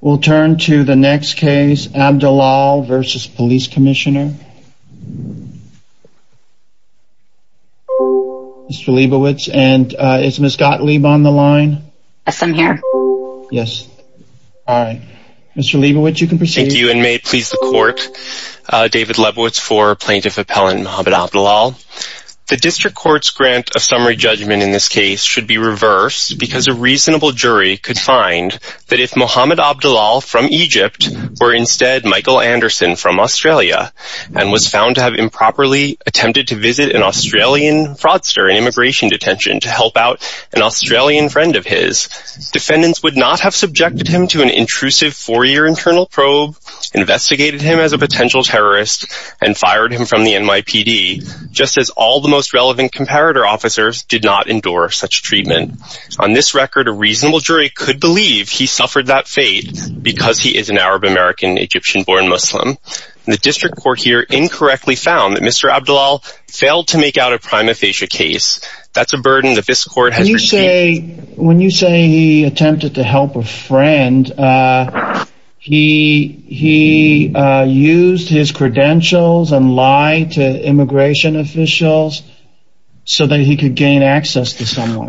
We'll turn to the next case, Abdelal v. Police Commissioner Mr. Leibovitz, and is Ms. Gottlieb on the line? Yes, I'm here. Yes. Alright. Mr. Leibovitz, you can proceed. Thank you, and may it please the Court, David Leibovitz for Plaintiff Appellant Mohamed Abdelal. The District Court's grant of summary judgment in this case should be reversed because a reasonable jury could find that if Mohamed Abdelal from Egypt were instead Michael Anderson from Australia, and was found to have improperly attempted to visit an Australian fraudster in immigration detention to help out an Australian friend of his, defendants would not have subjected him to an intrusive four-year internal probe, investigated him as a potential terrorist, and fired him from the NYPD, just as all the most relevant comparator officers did not endure such treatment. On this record, a reasonable jury could believe he suffered that fate because he is an Arab-American Egyptian-born Muslim. The District Court here incorrectly found that Mr. Abdelal failed to make out a prima facie case. That's a burden that this Court has received. When you say he attempted to help a friend, he used his credentials and lied to immigration officials so that he could gain access to someone,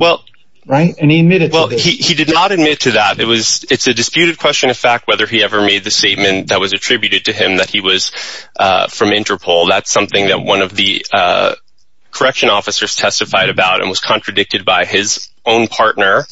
right? He did not admit to that. It's a disputed question of fact whether he ever made the statement that was attributed to him that he was from Interpol. That's something that one of the correction officers testified about and was contradicted by his own partner.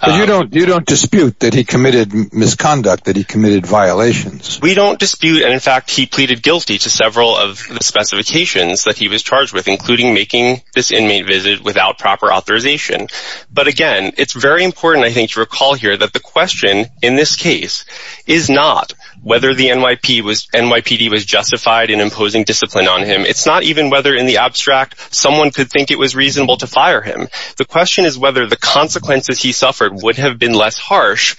But you don't dispute that he committed misconduct, that he committed violations? We don't dispute, and in fact he pleaded guilty to several of the specifications that he was charged with, including making this inmate visit without proper authorization. But again, it's very important I think to recall here that the question in this case is not whether the NYPD was justified in imposing discipline on him. It's not even whether in the abstract someone could think it was reasonable to fire him. The question is whether the consequences he suffered would have been less harsh,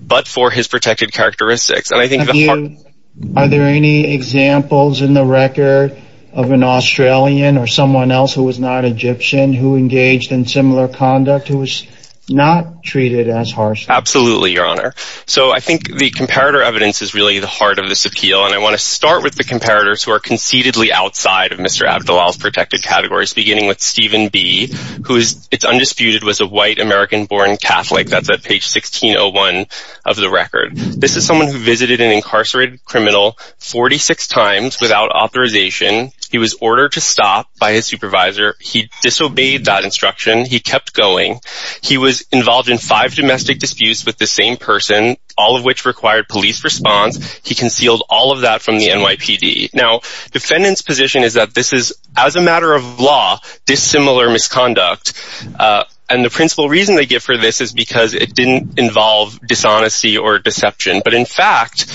but for his protected characteristics. Are there any examples in the record of an Australian or someone else who was not Egyptian who engaged in similar conduct, who was not treated as harshly? Absolutely, Your Honor. So I think the comparator evidence is really the heart of this appeal, and I want to start with the comparators who are conceitedly outside of Mr. Abdullah's protected categories, beginning with Stephen B., who it's undisputed was a white American-born Catholic. That's at page 1601 of the record. This is someone who visited an incarcerated criminal 46 times without authorization. He was ordered to stop by his supervisor. He disobeyed that instruction. He kept going. He was involved in five domestic disputes with the same person, all of which required police response. He concealed all of that from the NYPD. Now, defendant's position is that this is, as a matter of law, dissimilar misconduct, and the principal reason they give for this is because it didn't involve dishonesty or deception. But in fact,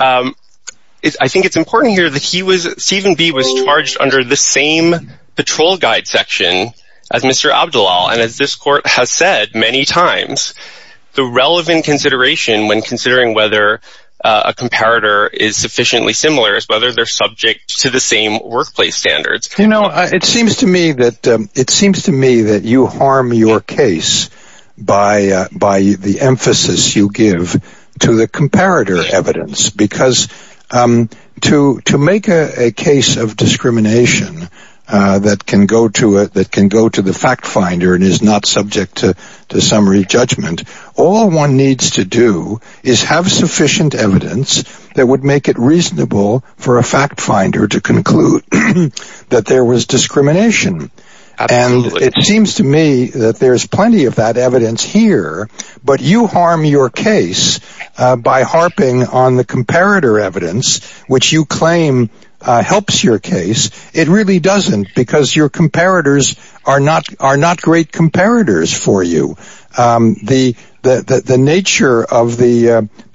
I think it's important here that Stephen B. was charged under the same patrol guide section as Mr. Abdullah, and as this court has said many times, the relevant consideration when considering whether a comparator is sufficiently similar is whether they're subject to the same workplace standards. You know, it seems to me that you harm your case by the emphasis you give to the comparator evidence, because to make a case of discrimination that can go to the fact finder and is not subject to summary judgment, all one needs to do is have sufficient evidence that would make it reasonable for a fact finder to conclude that there was discrimination. And it seems to me that there's plenty of that evidence here, but you harm your case by harping on the comparator evidence, which you claim helps your case. It really doesn't, because your comparators are not great comparators for you. The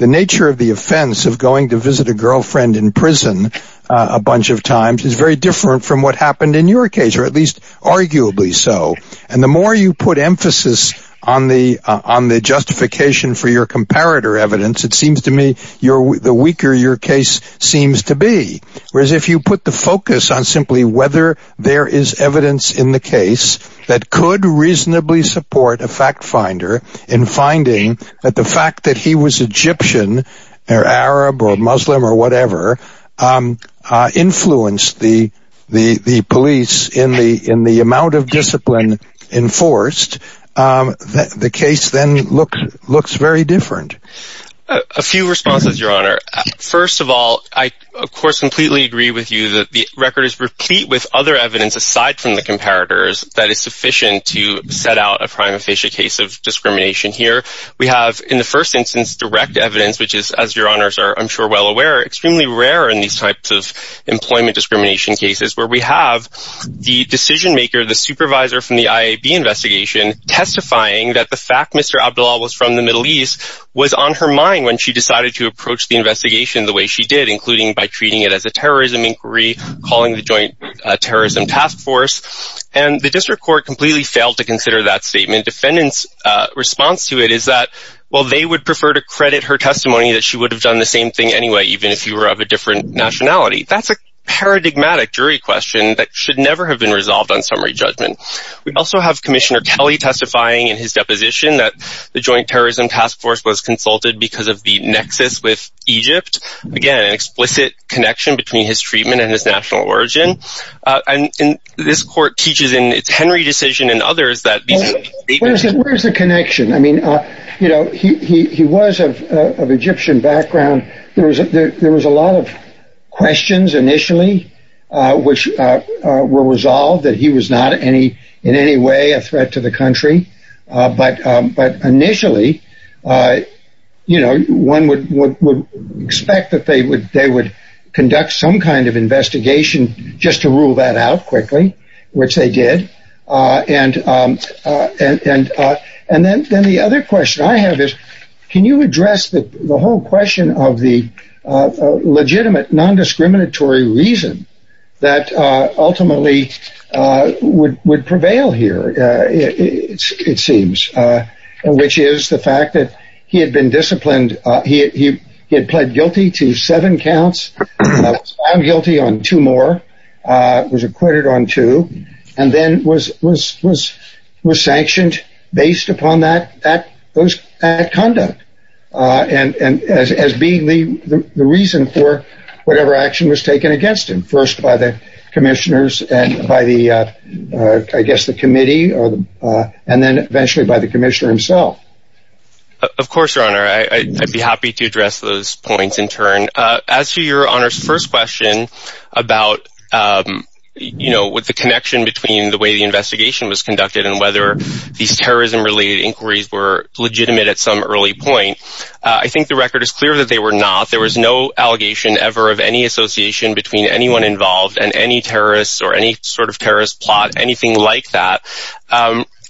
nature of the offense of going to visit a girlfriend in prison a bunch of times is very different from what happened in your case, or at least arguably so. And the more you put emphasis on the justification for your comparator evidence, it seems to me the weaker your case seems to be. Whereas if you put the focus on simply whether there is evidence in the case that could reasonably support a fact finder in finding that the fact that he was Egyptian, or Arab, or Muslim, or whatever, influenced the police in the amount of discipline enforced, the case then looks very different. A few responses, Your Honor. First of all, I, of course, completely agree with you that the record is replete with other evidence aside from the comparators that is sufficient to set out a crime-official case of discrimination here. We have, in the first instance, direct evidence, which is, as Your Honors are, I'm sure, well aware, extremely rare in these types of employment discrimination cases, where we have the decision-maker, the supervisor from the IAB investigation, testifying that the fact Mr. Abdullah was from the Middle East was on her mind when she decided to approach the investigation the way she did, including by treating it as a terrorism inquiry, calling the Joint Terrorism Task Force. And the District Court completely failed to consider that statement. Defendants' response to it is that, well, they would prefer to credit her testimony that she would have done the same thing anyway, even if you were of a different nationality. That's a paradigmatic jury question that should never have been resolved on summary judgment. We also have Commissioner Kelly testifying in his deposition that the Joint Terrorism Task Force was consulted because of the nexus with Egypt. Again, an explicit connection between his treatment and his national origin. And this Court teaches in its Henry decision and others that these statements... Where's the connection? I mean, you know, he was of Egyptian background. There was a lot of questions initially which were resolved that he was not in any way a threat to the country. But initially, you know, one would expect that they would conduct some kind of investigation just to rule that out quickly, which they did. And then the other question I have is, can you address the whole question of the legitimate nondiscriminatory reason that ultimately would prevail here, it seems, which is the fact that he had been disciplined. He had pled guilty to seven counts, found guilty on two more, was acquitted on two, and then was sanctioned based upon that conduct as being the reason for whatever action was taken against him. First by the commissioners and by the, I guess, the committee, and then eventually by the commissioner himself. Of course, Your Honor, I'd be happy to address those points in turn. As to Your Honor's first question about, you know, with the connection between the way the investigation was conducted and whether these terrorism-related inquiries were legitimate at some early point, I think the record is clear that they were not. There was no allegation ever of any association between anyone involved and any terrorists or any sort of terrorist plot, anything like that.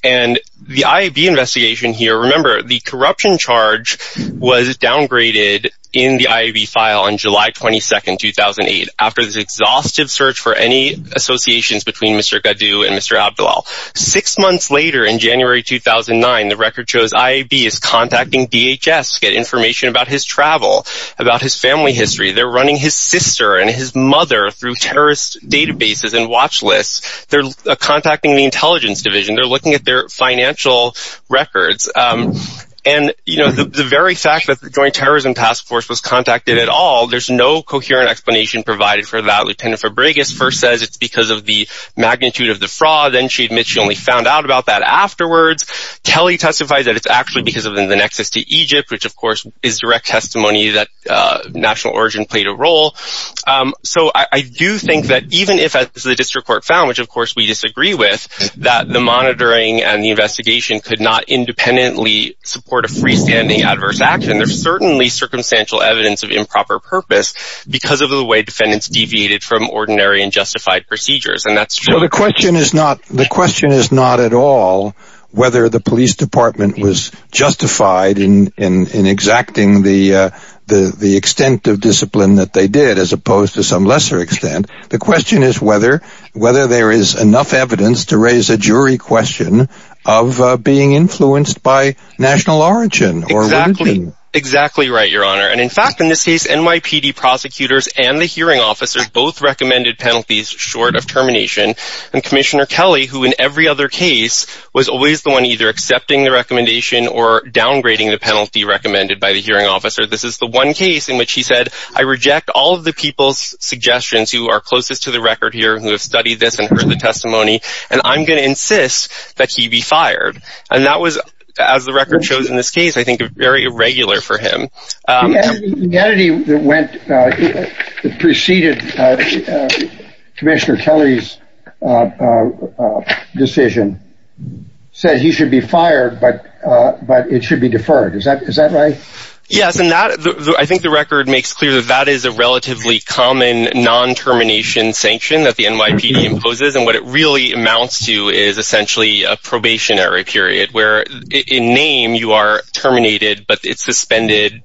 And the IAB investigation here, remember, the corruption charge was downgraded in the IAB file on July 22, 2008, after this exhaustive search for any associations between Mr. Gaddou and Mr. Abdelal. Six months later, in January 2009, the record shows IAB is contacting DHS to get information about his travel, about his family history. They're running his sister and his mother through terrorist databases and watch lists. They're contacting the intelligence division. They're looking at their financial records. And, you know, the very fact that the Joint Terrorism Task Force was contacted at all, there's no coherent explanation provided for that. Lieutenant Fabregas first says it's because of the magnitude of the fraud, then she admits she only found out about that afterwards. Kelly testifies that it's actually because of the nexus to Egypt, which, of course, is direct testimony that national origin played a role. So I do think that even if the district court found, which of course we disagree with, that the monitoring and the investigation could not independently support a freestanding adverse action, there's certainly circumstantial evidence of improper purpose because of the way defendants deviated from ordinary and justified procedures. And that's true. The question is not at all whether the police department was justified in exacting the extent of discipline that they did, as opposed to some lesser extent. The question is whether there is enough evidence to raise a jury question of being influenced by national origin. Exactly right, Your Honor. And in fact, in this case, NYPD prosecutors and the hearing officers both recommended penalties short of termination. And Commissioner Kelly, who in every other case, was always the one either accepting the recommendation or downgrading the penalty recommended by the hearing officer. This is the one case in which he said, I reject all of the people's suggestions who are closest to the record here who have studied this and heard the testimony, and I'm going to insist that he be fired. And that was, as the record shows in this case, I think very irregular for him. The entity that preceded Commissioner Kelly's decision said he should be fired, but it should be deferred. Is that right? Yes, and I think the record makes clear that that is a relatively common non-termination sanction that the NYPD imposes. And what it really amounts to is essentially a probationary period where in name you are terminated, but it's suspended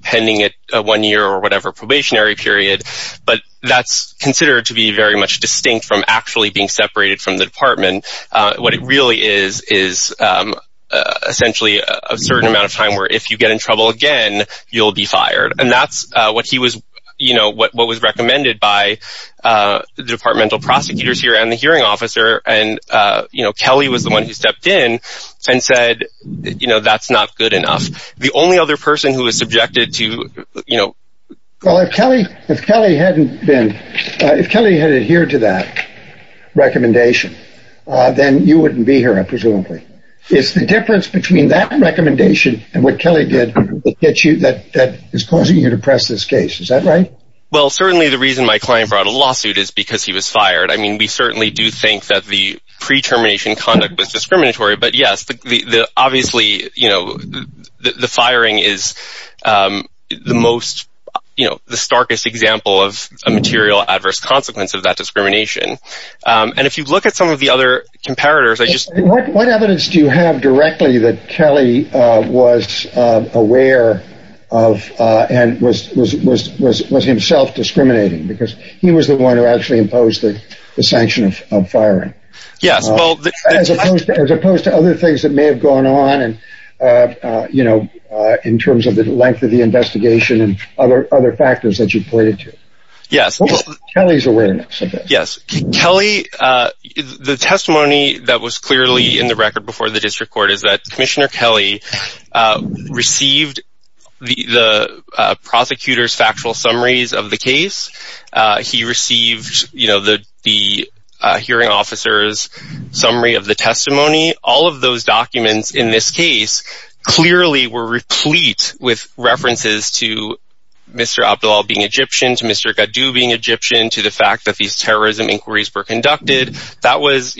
pending a one-year or whatever probationary period. But that's considered to be very much distinct from actually being separated from the department. What it really is, is essentially a certain amount of time where if you get in trouble again, you'll be fired. And that's what was recommended by the departmental prosecutors here and the hearing officer, and Kelly was the one who stepped in and said, you know, that's not good enough. The only other person who was subjected to, you know... Well, if Kelly had adhered to that recommendation, then you wouldn't be here, presumably. Is the difference between that recommendation and what Kelly did that is causing you to press this case, is that right? Well, certainly the reason my client brought a lawsuit is because he was fired. I mean, we certainly do think that the pre-termination conduct was discriminatory, but yes, obviously the firing is the starkest example of a material adverse consequence of that discrimination. And if you look at some of the other comparators... What evidence do you have directly that Kelly was aware of and was himself discriminating? Because he was the one who actually imposed the sanction of firing. Yes, well... As opposed to other things that may have gone on, you know, in terms of the length of the investigation and other factors that you pointed to. Yes. Kelly's awareness of this. Yes. Kelly... The testimony that was clearly in the record before the district court is that Commissioner Kelly received the prosecutor's factual summaries of the case. He received the hearing officer's summary of the testimony. All of those documents in this case clearly were replete with references to Mr. Abdelal being Egyptian, to Mr. Gaddo being Egyptian, to the fact that these terrorism inquiries were conducted. That was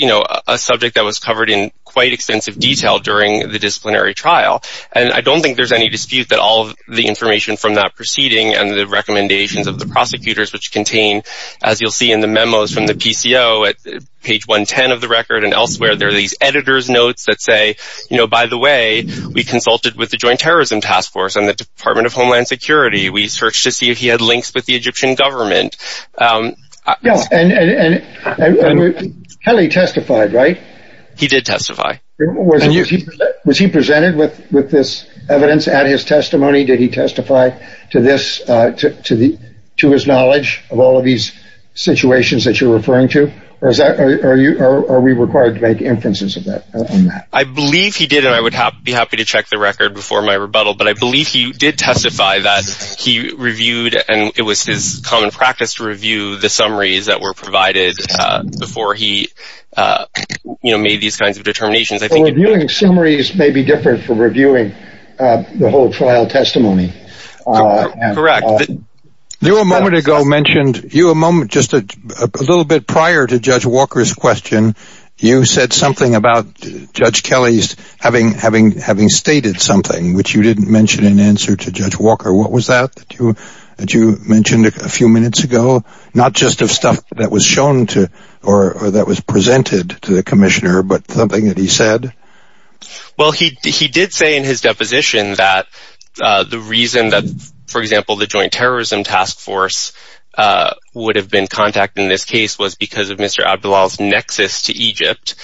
a subject that was covered in quite extensive detail during the disciplinary trial. And I don't think there's any dispute that all of the information from that proceeding and the recommendations of the prosecutors, which contain, as you'll see in the memos from the PCO at page 110 of the record and elsewhere, there are these editor's notes that say, you know, by the way, we consulted with the Joint Terrorism Task Force and the Department of Homeland Security. We searched to see if he had links with the Egyptian government. Yes, and Kelly testified, right? He did testify. Was he presented with this evidence at his testimony? Did he testify to his knowledge of all of these situations that you're referring to? Or are we required to make inferences on that? I believe he did, and I would be happy to check the record before my rebuttal, but I believe he did testify that he reviewed, and it was his common practice to review the summaries that were provided before he made these kinds of determinations. Reviewing summaries may be different from reviewing the whole trial testimony. Correct. You a moment ago mentioned, just a little bit prior to Judge Walker's question, you said something about Judge Kelly having stated something, which you didn't mention in answer to Judge Walker. What was that that you mentioned a few minutes ago? Not just of stuff that was shown or that was presented to the commissioner, but something that he said? Well, he did say in his deposition that the reason that, for example, the Joint Terrorism Task Force would have been contacted in this case was because of Mr. Abdullah's nexus to Egypt.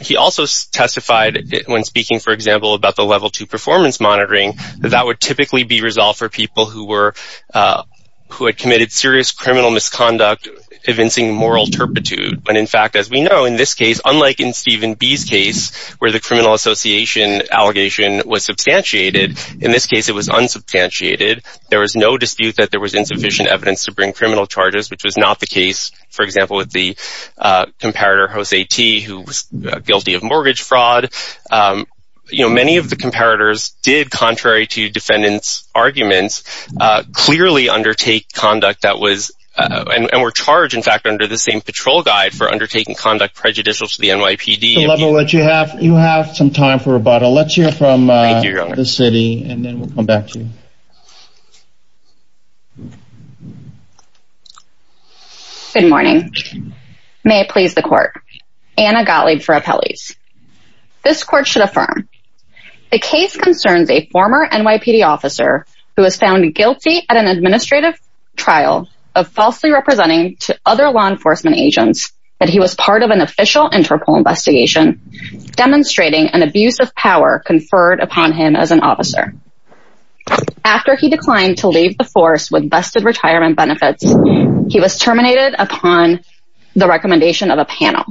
He also testified when speaking, for example, about the Level 2 performance monitoring, that that would typically be resolved for people who had committed serious criminal misconduct evincing moral turpitude. In fact, as we know, in this case, unlike in Stephen B.'s case, where the criminal association allegation was substantiated, in this case it was unsubstantiated. There was no dispute that there was insufficient evidence to bring criminal charges, which was not the case, for example, with the comparator Jose T., who was guilty of mortgage fraud. clearly undertake conduct that was, and were charged, in fact, under the same patrol guide for undertaking conduct prejudicial to the NYPD. You have some time for rebuttal. Let's hear from the city, and then we'll come back to you. Good morning. May it please the Court. Anna Gottlieb for Appellees. This Court should affirm. The case concerns a former NYPD officer who was found guilty at an administrative trial of falsely representing to other law enforcement agents that he was part of an official Interpol investigation demonstrating an abuse of power conferred upon him as an officer. After he declined to leave the force with vested retirement benefits, he was terminated upon the recommendation of a panel.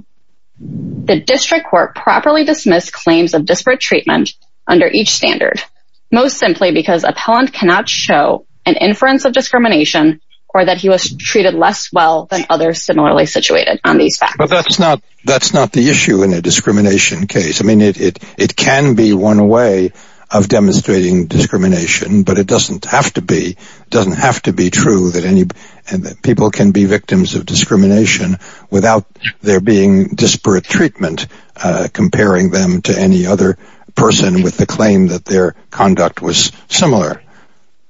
The district court properly dismissed claims of disparate treatment under each standard, most simply because appellant cannot show an inference of discrimination or that he was treated less well than others similarly situated on these facts. But that's not the issue in a discrimination case. I mean, it can be one way of demonstrating discrimination, but it doesn't have to be. It doesn't have to be true that people can be victims of discrimination without there being disparate treatment comparing them to any other person with the claim that their conduct was similar.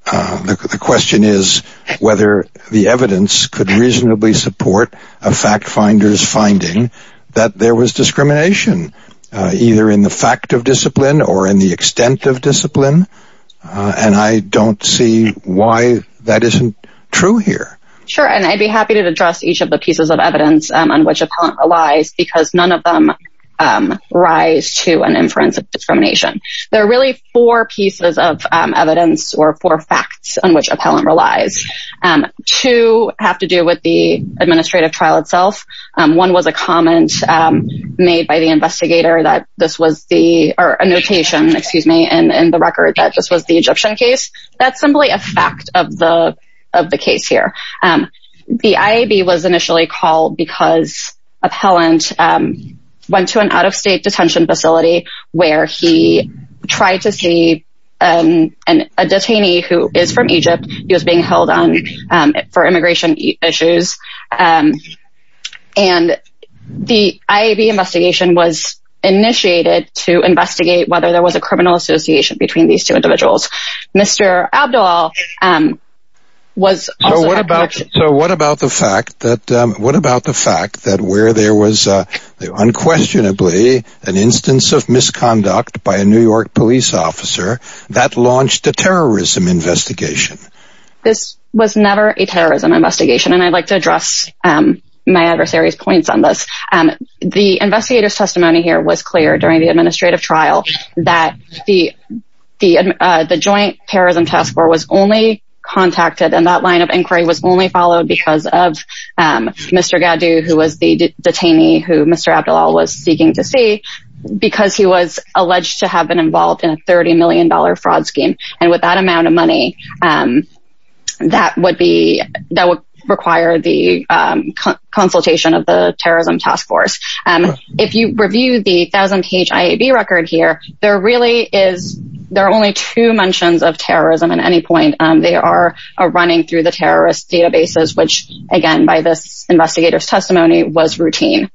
The question is whether the evidence could reasonably support a fact-finder's finding that there was discrimination, either in the fact of discipline or in the extent of discipline. And I don't see why that isn't true here. Sure, and I'd be happy to address each of the pieces of evidence on which appellant relies because none of them rise to an inference of discrimination. There are really four pieces of evidence or four facts on which appellant relies. Two have to do with the administrative trial itself. One was a comment made by the investigator that this was the – or a notation, excuse me, in the record that this was the Egyptian case. That's simply a fact of the case here. The IAB was initially called because appellant went to an out-of-state detention facility where he tried to see a detainee who is from Egypt. He was being held on for immigration issues. And the IAB investigation was initiated to investigate whether there was a criminal association between these two individuals. Mr. Abdull was also – So what about the fact that where there was unquestionably an instance of misconduct by a New York police officer, that launched a terrorism investigation? This was never a terrorism investigation, and I'd like to address my adversary's points on this. The investigator's testimony here was clear during the administrative trial that the Joint Terrorism Task Force was only contacted, and that line of inquiry was only followed because of Mr. Gaddu, who was the detainee who Mr. Abdull was seeking to see, because he was alleged to have been involved in a $30 million fraud scheme. And with that amount of money, that would require the consultation of the terrorism task force. If you review the 1,000-page IAB record here, there are only two mentions of terrorism at any point. They are running through the terrorist databases, which again by this investigator's testimony was routine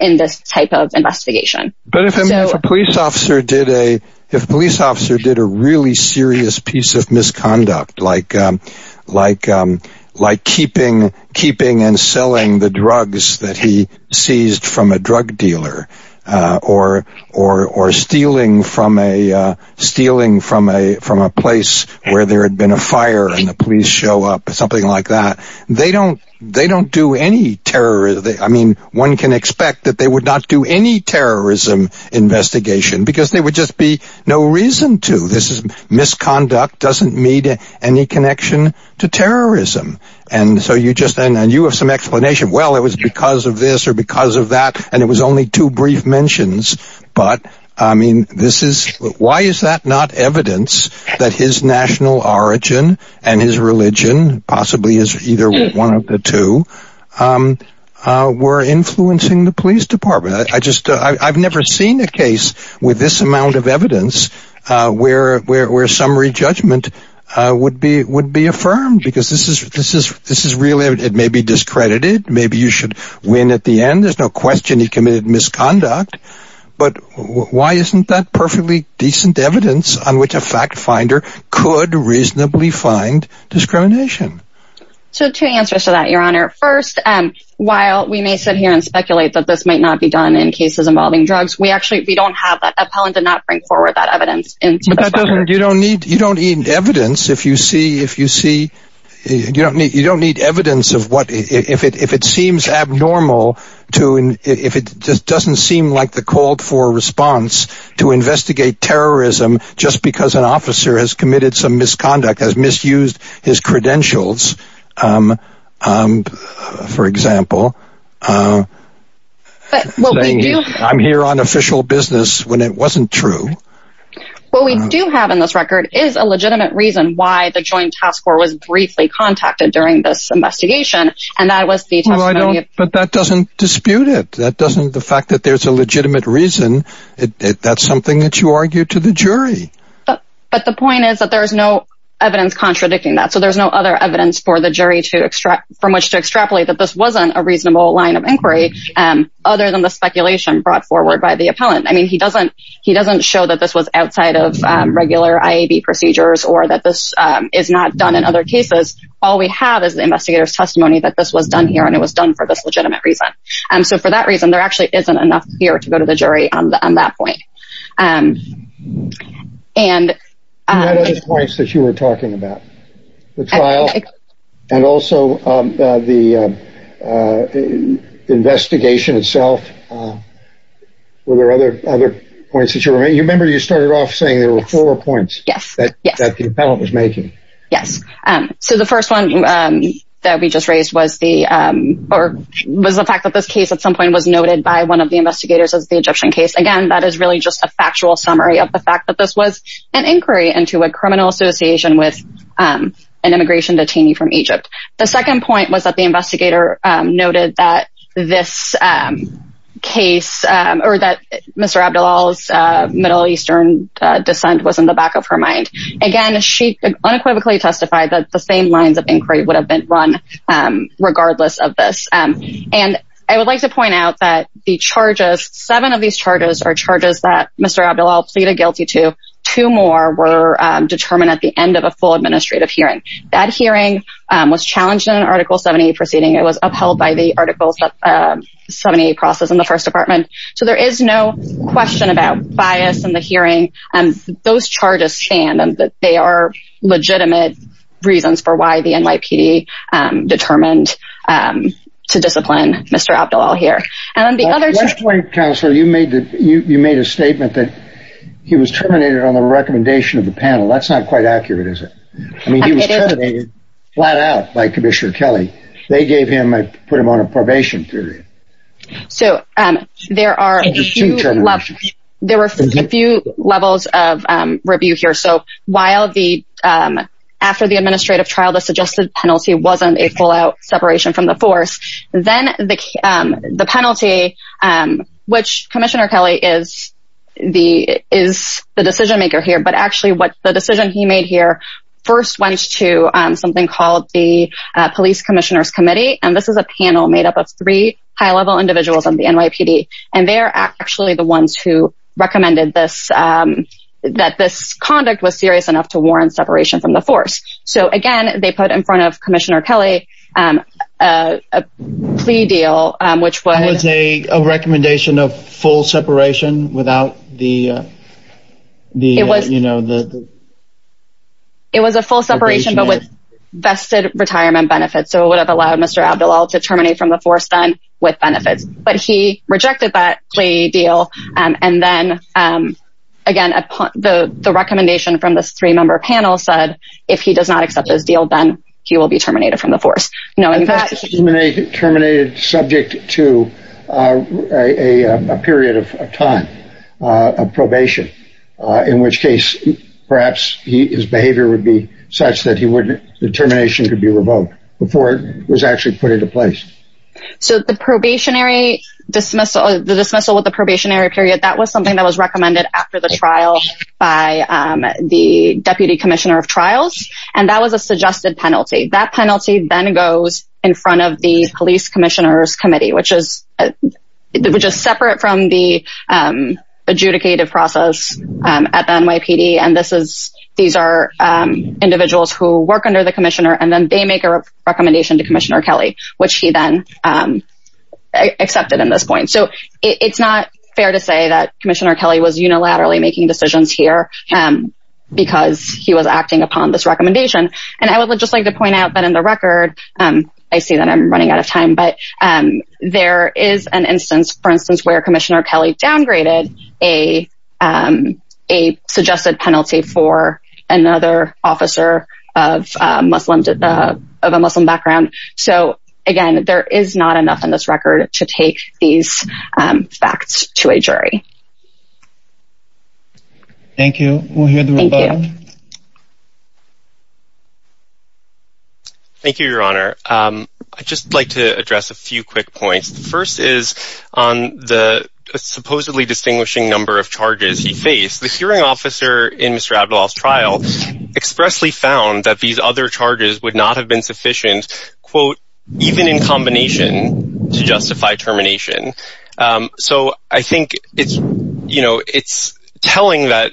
in this type of investigation. But if a police officer did a really serious piece of misconduct, like keeping and selling the drugs that he seized from a drug dealer, or stealing from a place where there had been a fire and the police show up, something like that, one can expect that they would not do any terrorism investigation, because there would just be no reason to. Misconduct doesn't meet any connection to terrorism. And you have some explanation. Well, it was because of this or because of that, and it was only two brief mentions. Why is that not evidence that his national origin and his religion, possibly as either one of the two, were influencing the police department? I've never seen a case with this amount of evidence where summary judgment would be affirmed, because this is real evidence. It may be discredited. Maybe you should win at the end. There's no question he committed misconduct. But why isn't that perfectly decent evidence on which a fact finder could reasonably find discrimination? So two answers to that, Your Honor. First, while we may sit here and speculate that this might not be done in cases involving drugs, we actually don't have that. Appellant did not bring forward that evidence. You don't need evidence if it seems abnormal, if it doesn't seem like the call for a response to investigate terrorism just because an officer has committed some misconduct, has misused his credentials, for example, saying, I'm here on official business when it wasn't true. What we do have in this record is a legitimate reason why the Joint Task Force was briefly contacted during this investigation, and that was the testimony of... But that doesn't dispute it. The fact that there's a legitimate reason, that's something that you argue to the jury. But the point is that there's no evidence contradicting that, so there's no other evidence for the jury from which to extrapolate that this wasn't a reasonable line of inquiry other than the speculation brought forward by the appellant. I mean, he doesn't show that this was outside of regular IAB procedures or that this is not done in other cases. All we have is the investigator's testimony that this was done here and it was done for this legitimate reason. So for that reason, there actually isn't enough here to go to the jury on that point. You had other points that you were talking about. The trial and also the investigation itself. Were there other points that you were making? You remember you started off saying there were four points that the appellant was making. Yes. So the first one that we just raised was the fact that this case at some point was noted by one of the investigators as the Egyptian case. Again, that is really just a factual summary of the fact that this was an inquiry into a criminal association with an immigration detainee from Egypt. The second point was that the investigator noted that this case or that Mr. Abdullah's Middle Eastern descent was in the back of her mind. Again, she unequivocally testified that the same lines of inquiry would have been run regardless of this. I would like to point out that seven of these charges are charges that Mr. Abdullah pleaded guilty to. Two more were determined at the end of a full administrative hearing. That hearing was challenged in an Article 70 proceeding. It was upheld by the Article 70 process in the First Department. So there is no question about bias in the hearing. Those charges stand. They are legitimate reasons for why the NYPD determined to discipline Mr. Abdullah here. At one point, Counselor, you made a statement that he was terminated on the recommendation of the panel. That's not quite accurate, is it? I mean, he was terminated flat out by Commissioner Kelly. They put him on a probation period. So there are a few levels of review here. So while after the administrative trial, the suggested penalty wasn't a full-out separation from the force, then the penalty, which Commissioner Kelly is the decision-maker here, but actually the decision he made here first went to something called the Police Commissioners Committee. And this is a panel made up of three high-level individuals on the NYPD. And they are actually the ones who recommended that this conduct was serious enough to warrant separation from the force. So, again, they put in front of Commissioner Kelly a plea deal, which was— That was a recommendation of full separation without the— It was a full separation, but with vested retirement benefits. So it would have allowed Mr. Abdullah to terminate from the force then with benefits. But he rejected that plea deal. And then, again, the recommendation from this three-member panel said, if he does not accept this deal, then he will be terminated from the force. And that terminated subject to a period of time of probation, in which case perhaps his behavior would be such that the termination could be revoked before it was actually put into place. So the probationary dismissal, the dismissal with the probationary period, that was something that was recommended after the trial by the Deputy Commissioner of Trials. And that was a suggested penalty. That penalty then goes in front of the Police Commissioners Committee, which is separate from the adjudicative process at the NYPD. And this is—these are individuals who work under the Commissioner, and then they make a recommendation to Commissioner Kelly, which he then accepted in this point. So it's not fair to say that Commissioner Kelly was unilaterally making decisions here because he was acting upon this recommendation. And I would just like to point out that in the record—I see that I'm running out of time, but there is an instance, for instance, where Commissioner Kelly downgraded a suggested penalty for another officer of a Muslim background. So, again, there is not enough in this record to take these facts to a jury. Thank you. We'll hear the rebuttal. Thank you, Your Honor. I'd just like to address a few quick points. The first is on the supposedly distinguishing number of charges he faced. The hearing officer in Mr. Abdelal's trial expressly found that these other charges would not have been sufficient, quote, even in combination, to justify termination. So I think it's telling that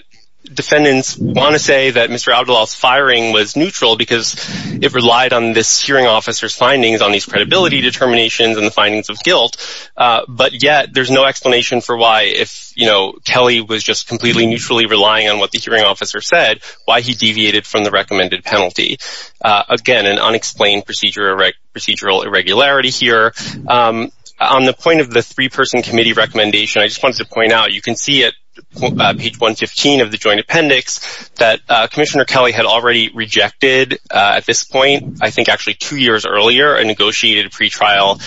defendants want to say that Mr. Abdelal's firing was neutral because it relied on this hearing officer's findings on these credibility determinations and the findings of guilt. But yet there's no explanation for why, if Kelly was just completely neutrally relying on what the hearing officer said, why he deviated from the recommended penalty. Again, an unexplained procedural irregularity here. On the point of the three-person committee recommendation, I just wanted to point out, you can see at page 115 of the joint appendix that Commissioner Kelly had already rejected at this point, I think actually two years earlier, a negotiated pretrial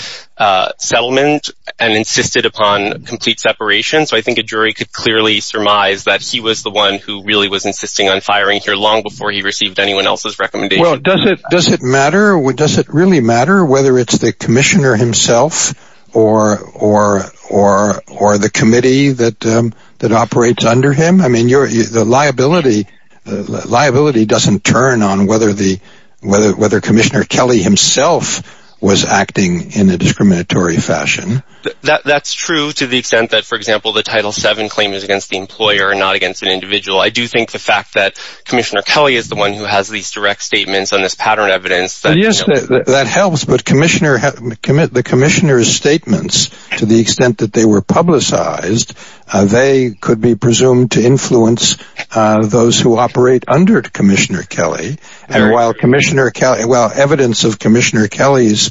settlement and insisted upon complete separation. So I think a jury could clearly surmise that he was the one who really was insisting on firing here long before he received anyone else's recommendation. Well, does it really matter whether it's the Commissioner himself or the committee that operates under him? I mean, the liability doesn't turn on whether Commissioner Kelly himself was acting in a discriminatory fashion. That's true to the extent that, for example, the Title VII claim is against the employer and not against an individual. I do think the fact that Commissioner Kelly is the one who has these direct statements on this pattern evidence. Yes, that helps, but the Commissioner's statements, to the extent that they were publicized, they could be presumed to influence those who operate under Commissioner Kelly. And while evidence of Commissioner Kelly's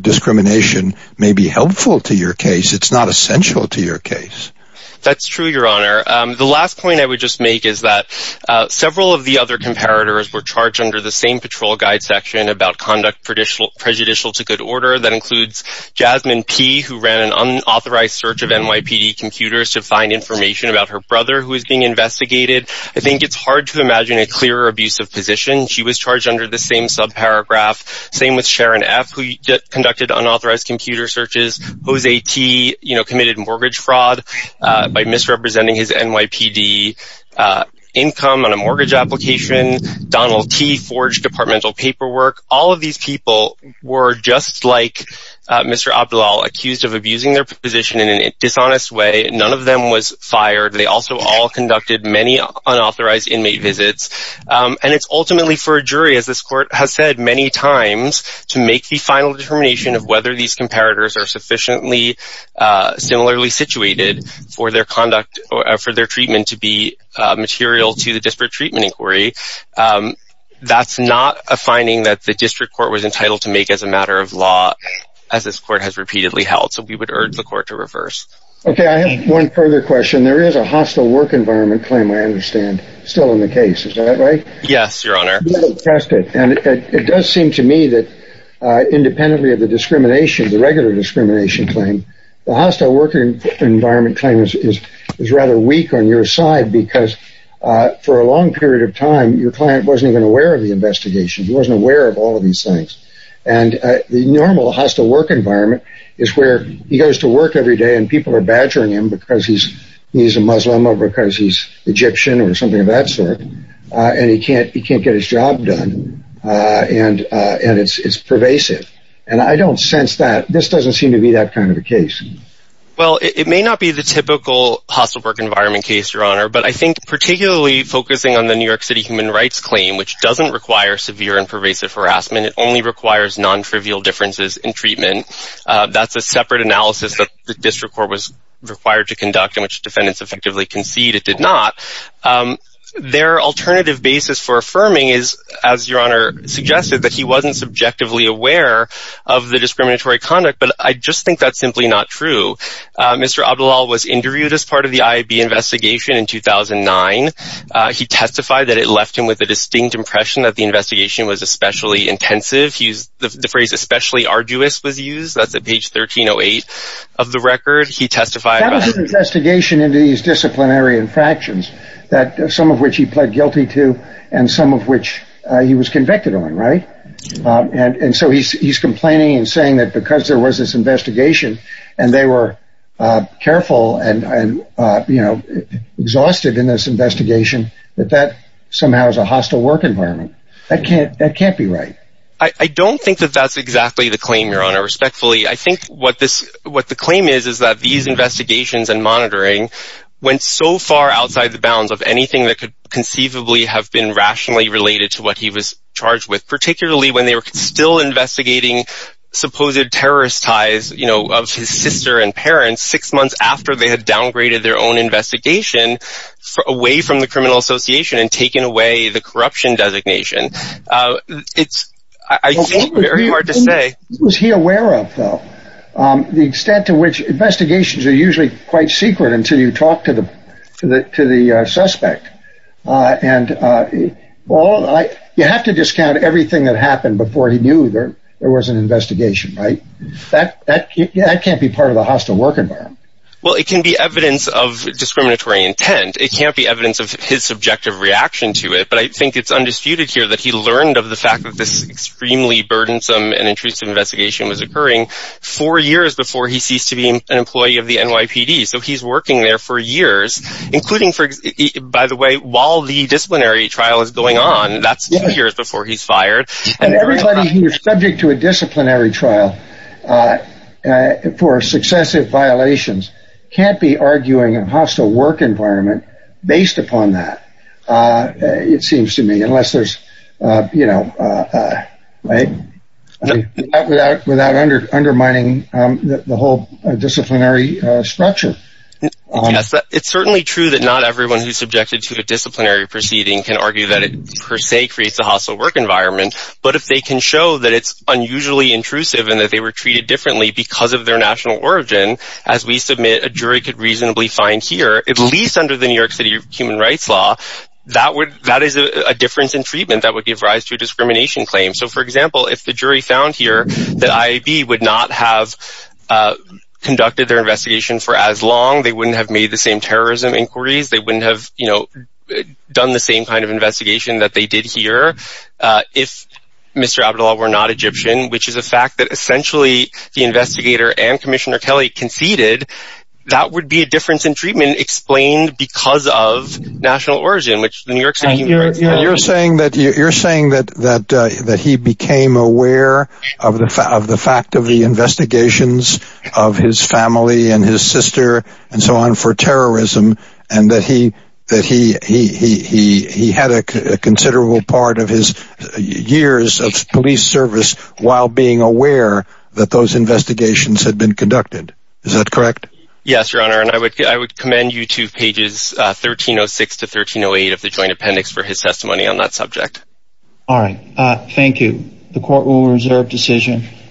discrimination may be helpful to your case, it's not essential to your case. That's true, Your Honor. The last point I would just make is that several of the other comparators were charged under the same patrol guide section about conduct prejudicial to good order. That includes Jasmine P., who ran an unauthorized search of NYPD computers to find information about her brother, who is being investigated. I think it's hard to imagine a clearer abuse of position. She was charged under the same subparagraph. Same with Sharon F., who conducted unauthorized computer searches. Jose T. committed mortgage fraud by misrepresenting his NYPD income on a mortgage application. Donald T. forged departmental paperwork. All of these people were, just like Mr. Abdullal, accused of abusing their position in a dishonest way. None of them was fired. They also all conducted many unauthorized inmate visits. And it's ultimately for a jury, as this Court has said many times, to make the final determination of whether these comparators are sufficiently similarly situated for their treatment to be material to the disparate treatment inquiry. That's not a finding that the District Court was entitled to make as a matter of law, as this Court has repeatedly held. So we would urge the Court to reverse. Okay, I have one further question. There is a hostile work environment claim, I understand, still in the case. Is that right? Yes, Your Honor. And it does seem to me that, independently of the discrimination, the regular discrimination claim, the hostile work environment claim is rather weak on your side because, for a long period of time, your client wasn't even aware of the investigation. He wasn't aware of all of these things. And the normal hostile work environment is where he goes to work every day, and people are badgering him because he's a Muslim or because he's Egyptian or something of that sort, and he can't get his job done, and it's pervasive. And I don't sense that. This doesn't seem to be that kind of a case. Well, it may not be the typical hostile work environment case, Your Honor, but I think particularly focusing on the New York City human rights claim, which doesn't require severe and pervasive harassment. It only requires non-trivial differences in treatment. That's a separate analysis that the District Court was required to conduct, in which defendants effectively concede it did not. Their alternative basis for affirming is, as Your Honor suggested, that he wasn't subjectively aware of the discriminatory conduct, but I just think that's simply not true. Mr. Abdullal was interviewed as part of the IAB investigation in 2009. He testified that it left him with a distinct impression that the investigation was especially intensive. The phrase especially arduous was used. That's at page 1308 of the record. That was an investigation into these disciplinary infractions, some of which he pled guilty to and some of which he was convicted on, right? And so he's complaining and saying that because there was this investigation and they were careful and exhausted in this investigation, that that somehow is a hostile work environment. That can't be right. I don't think that that's exactly the claim, Your Honor, respectfully. I think what the claim is is that these investigations and monitoring went so far outside the bounds of anything that could conceivably have been rationally related to what he was charged with, particularly when they were still investigating supposed terrorist ties of his sister and parents six months after they had downgraded their own investigation away from the criminal association and taken away the corruption designation. It's, I think, very hard to say. What was he aware of, though? The extent to which investigations are usually quite secret until you talk to the suspect. And you have to discount everything that happened before he knew there was an investigation, right? That can't be part of the hostile work environment. Well, it can be evidence of discriminatory intent. It can't be evidence of his subjective reaction to it. But I think it's undisputed here that he learned of the fact that this extremely burdensome and intrusive investigation was occurring four years before he ceased to be an employee of the NYPD. So he's working there for years, including, by the way, while the disciplinary trial is going on. That's two years before he's fired. And everybody who is subject to a disciplinary trial for successive violations can't be arguing a hostile work environment based upon that. It seems to me, unless there's, you know, right? Without undermining the whole disciplinary structure. It's certainly true that not everyone who's subjected to a disciplinary proceeding can argue that it per se creates a hostile work environment. But if they can show that it's unusually intrusive and that they were treated differently because of their national origin, as we submit a jury could reasonably find here, at least under the New York City Human Rights Law, that is a difference in treatment that would give rise to a discrimination claim. So, for example, if the jury found here that IAB would not have conducted their investigation for as long, they wouldn't have made the same terrorism inquiries, they wouldn't have, you know, done the same kind of investigation that they did here, if Mr. Abdullah were not Egyptian, which is a fact that essentially the investigator and Commissioner Kelly conceded, that would be a difference in treatment explained because of national origin, which the New York City Human Rights Law... You're saying that he became aware of the fact of the investigations of his family and his sister and so on for terrorism, and that he had a considerable part of his years of police service while being aware that those investigations had been conducted. Is that correct? Yes, Your Honor. And I would commend you to pages 1306 to 1308 of the Joint Appendix for his testimony on that subject. All right. Thank you. The court will reserve decision.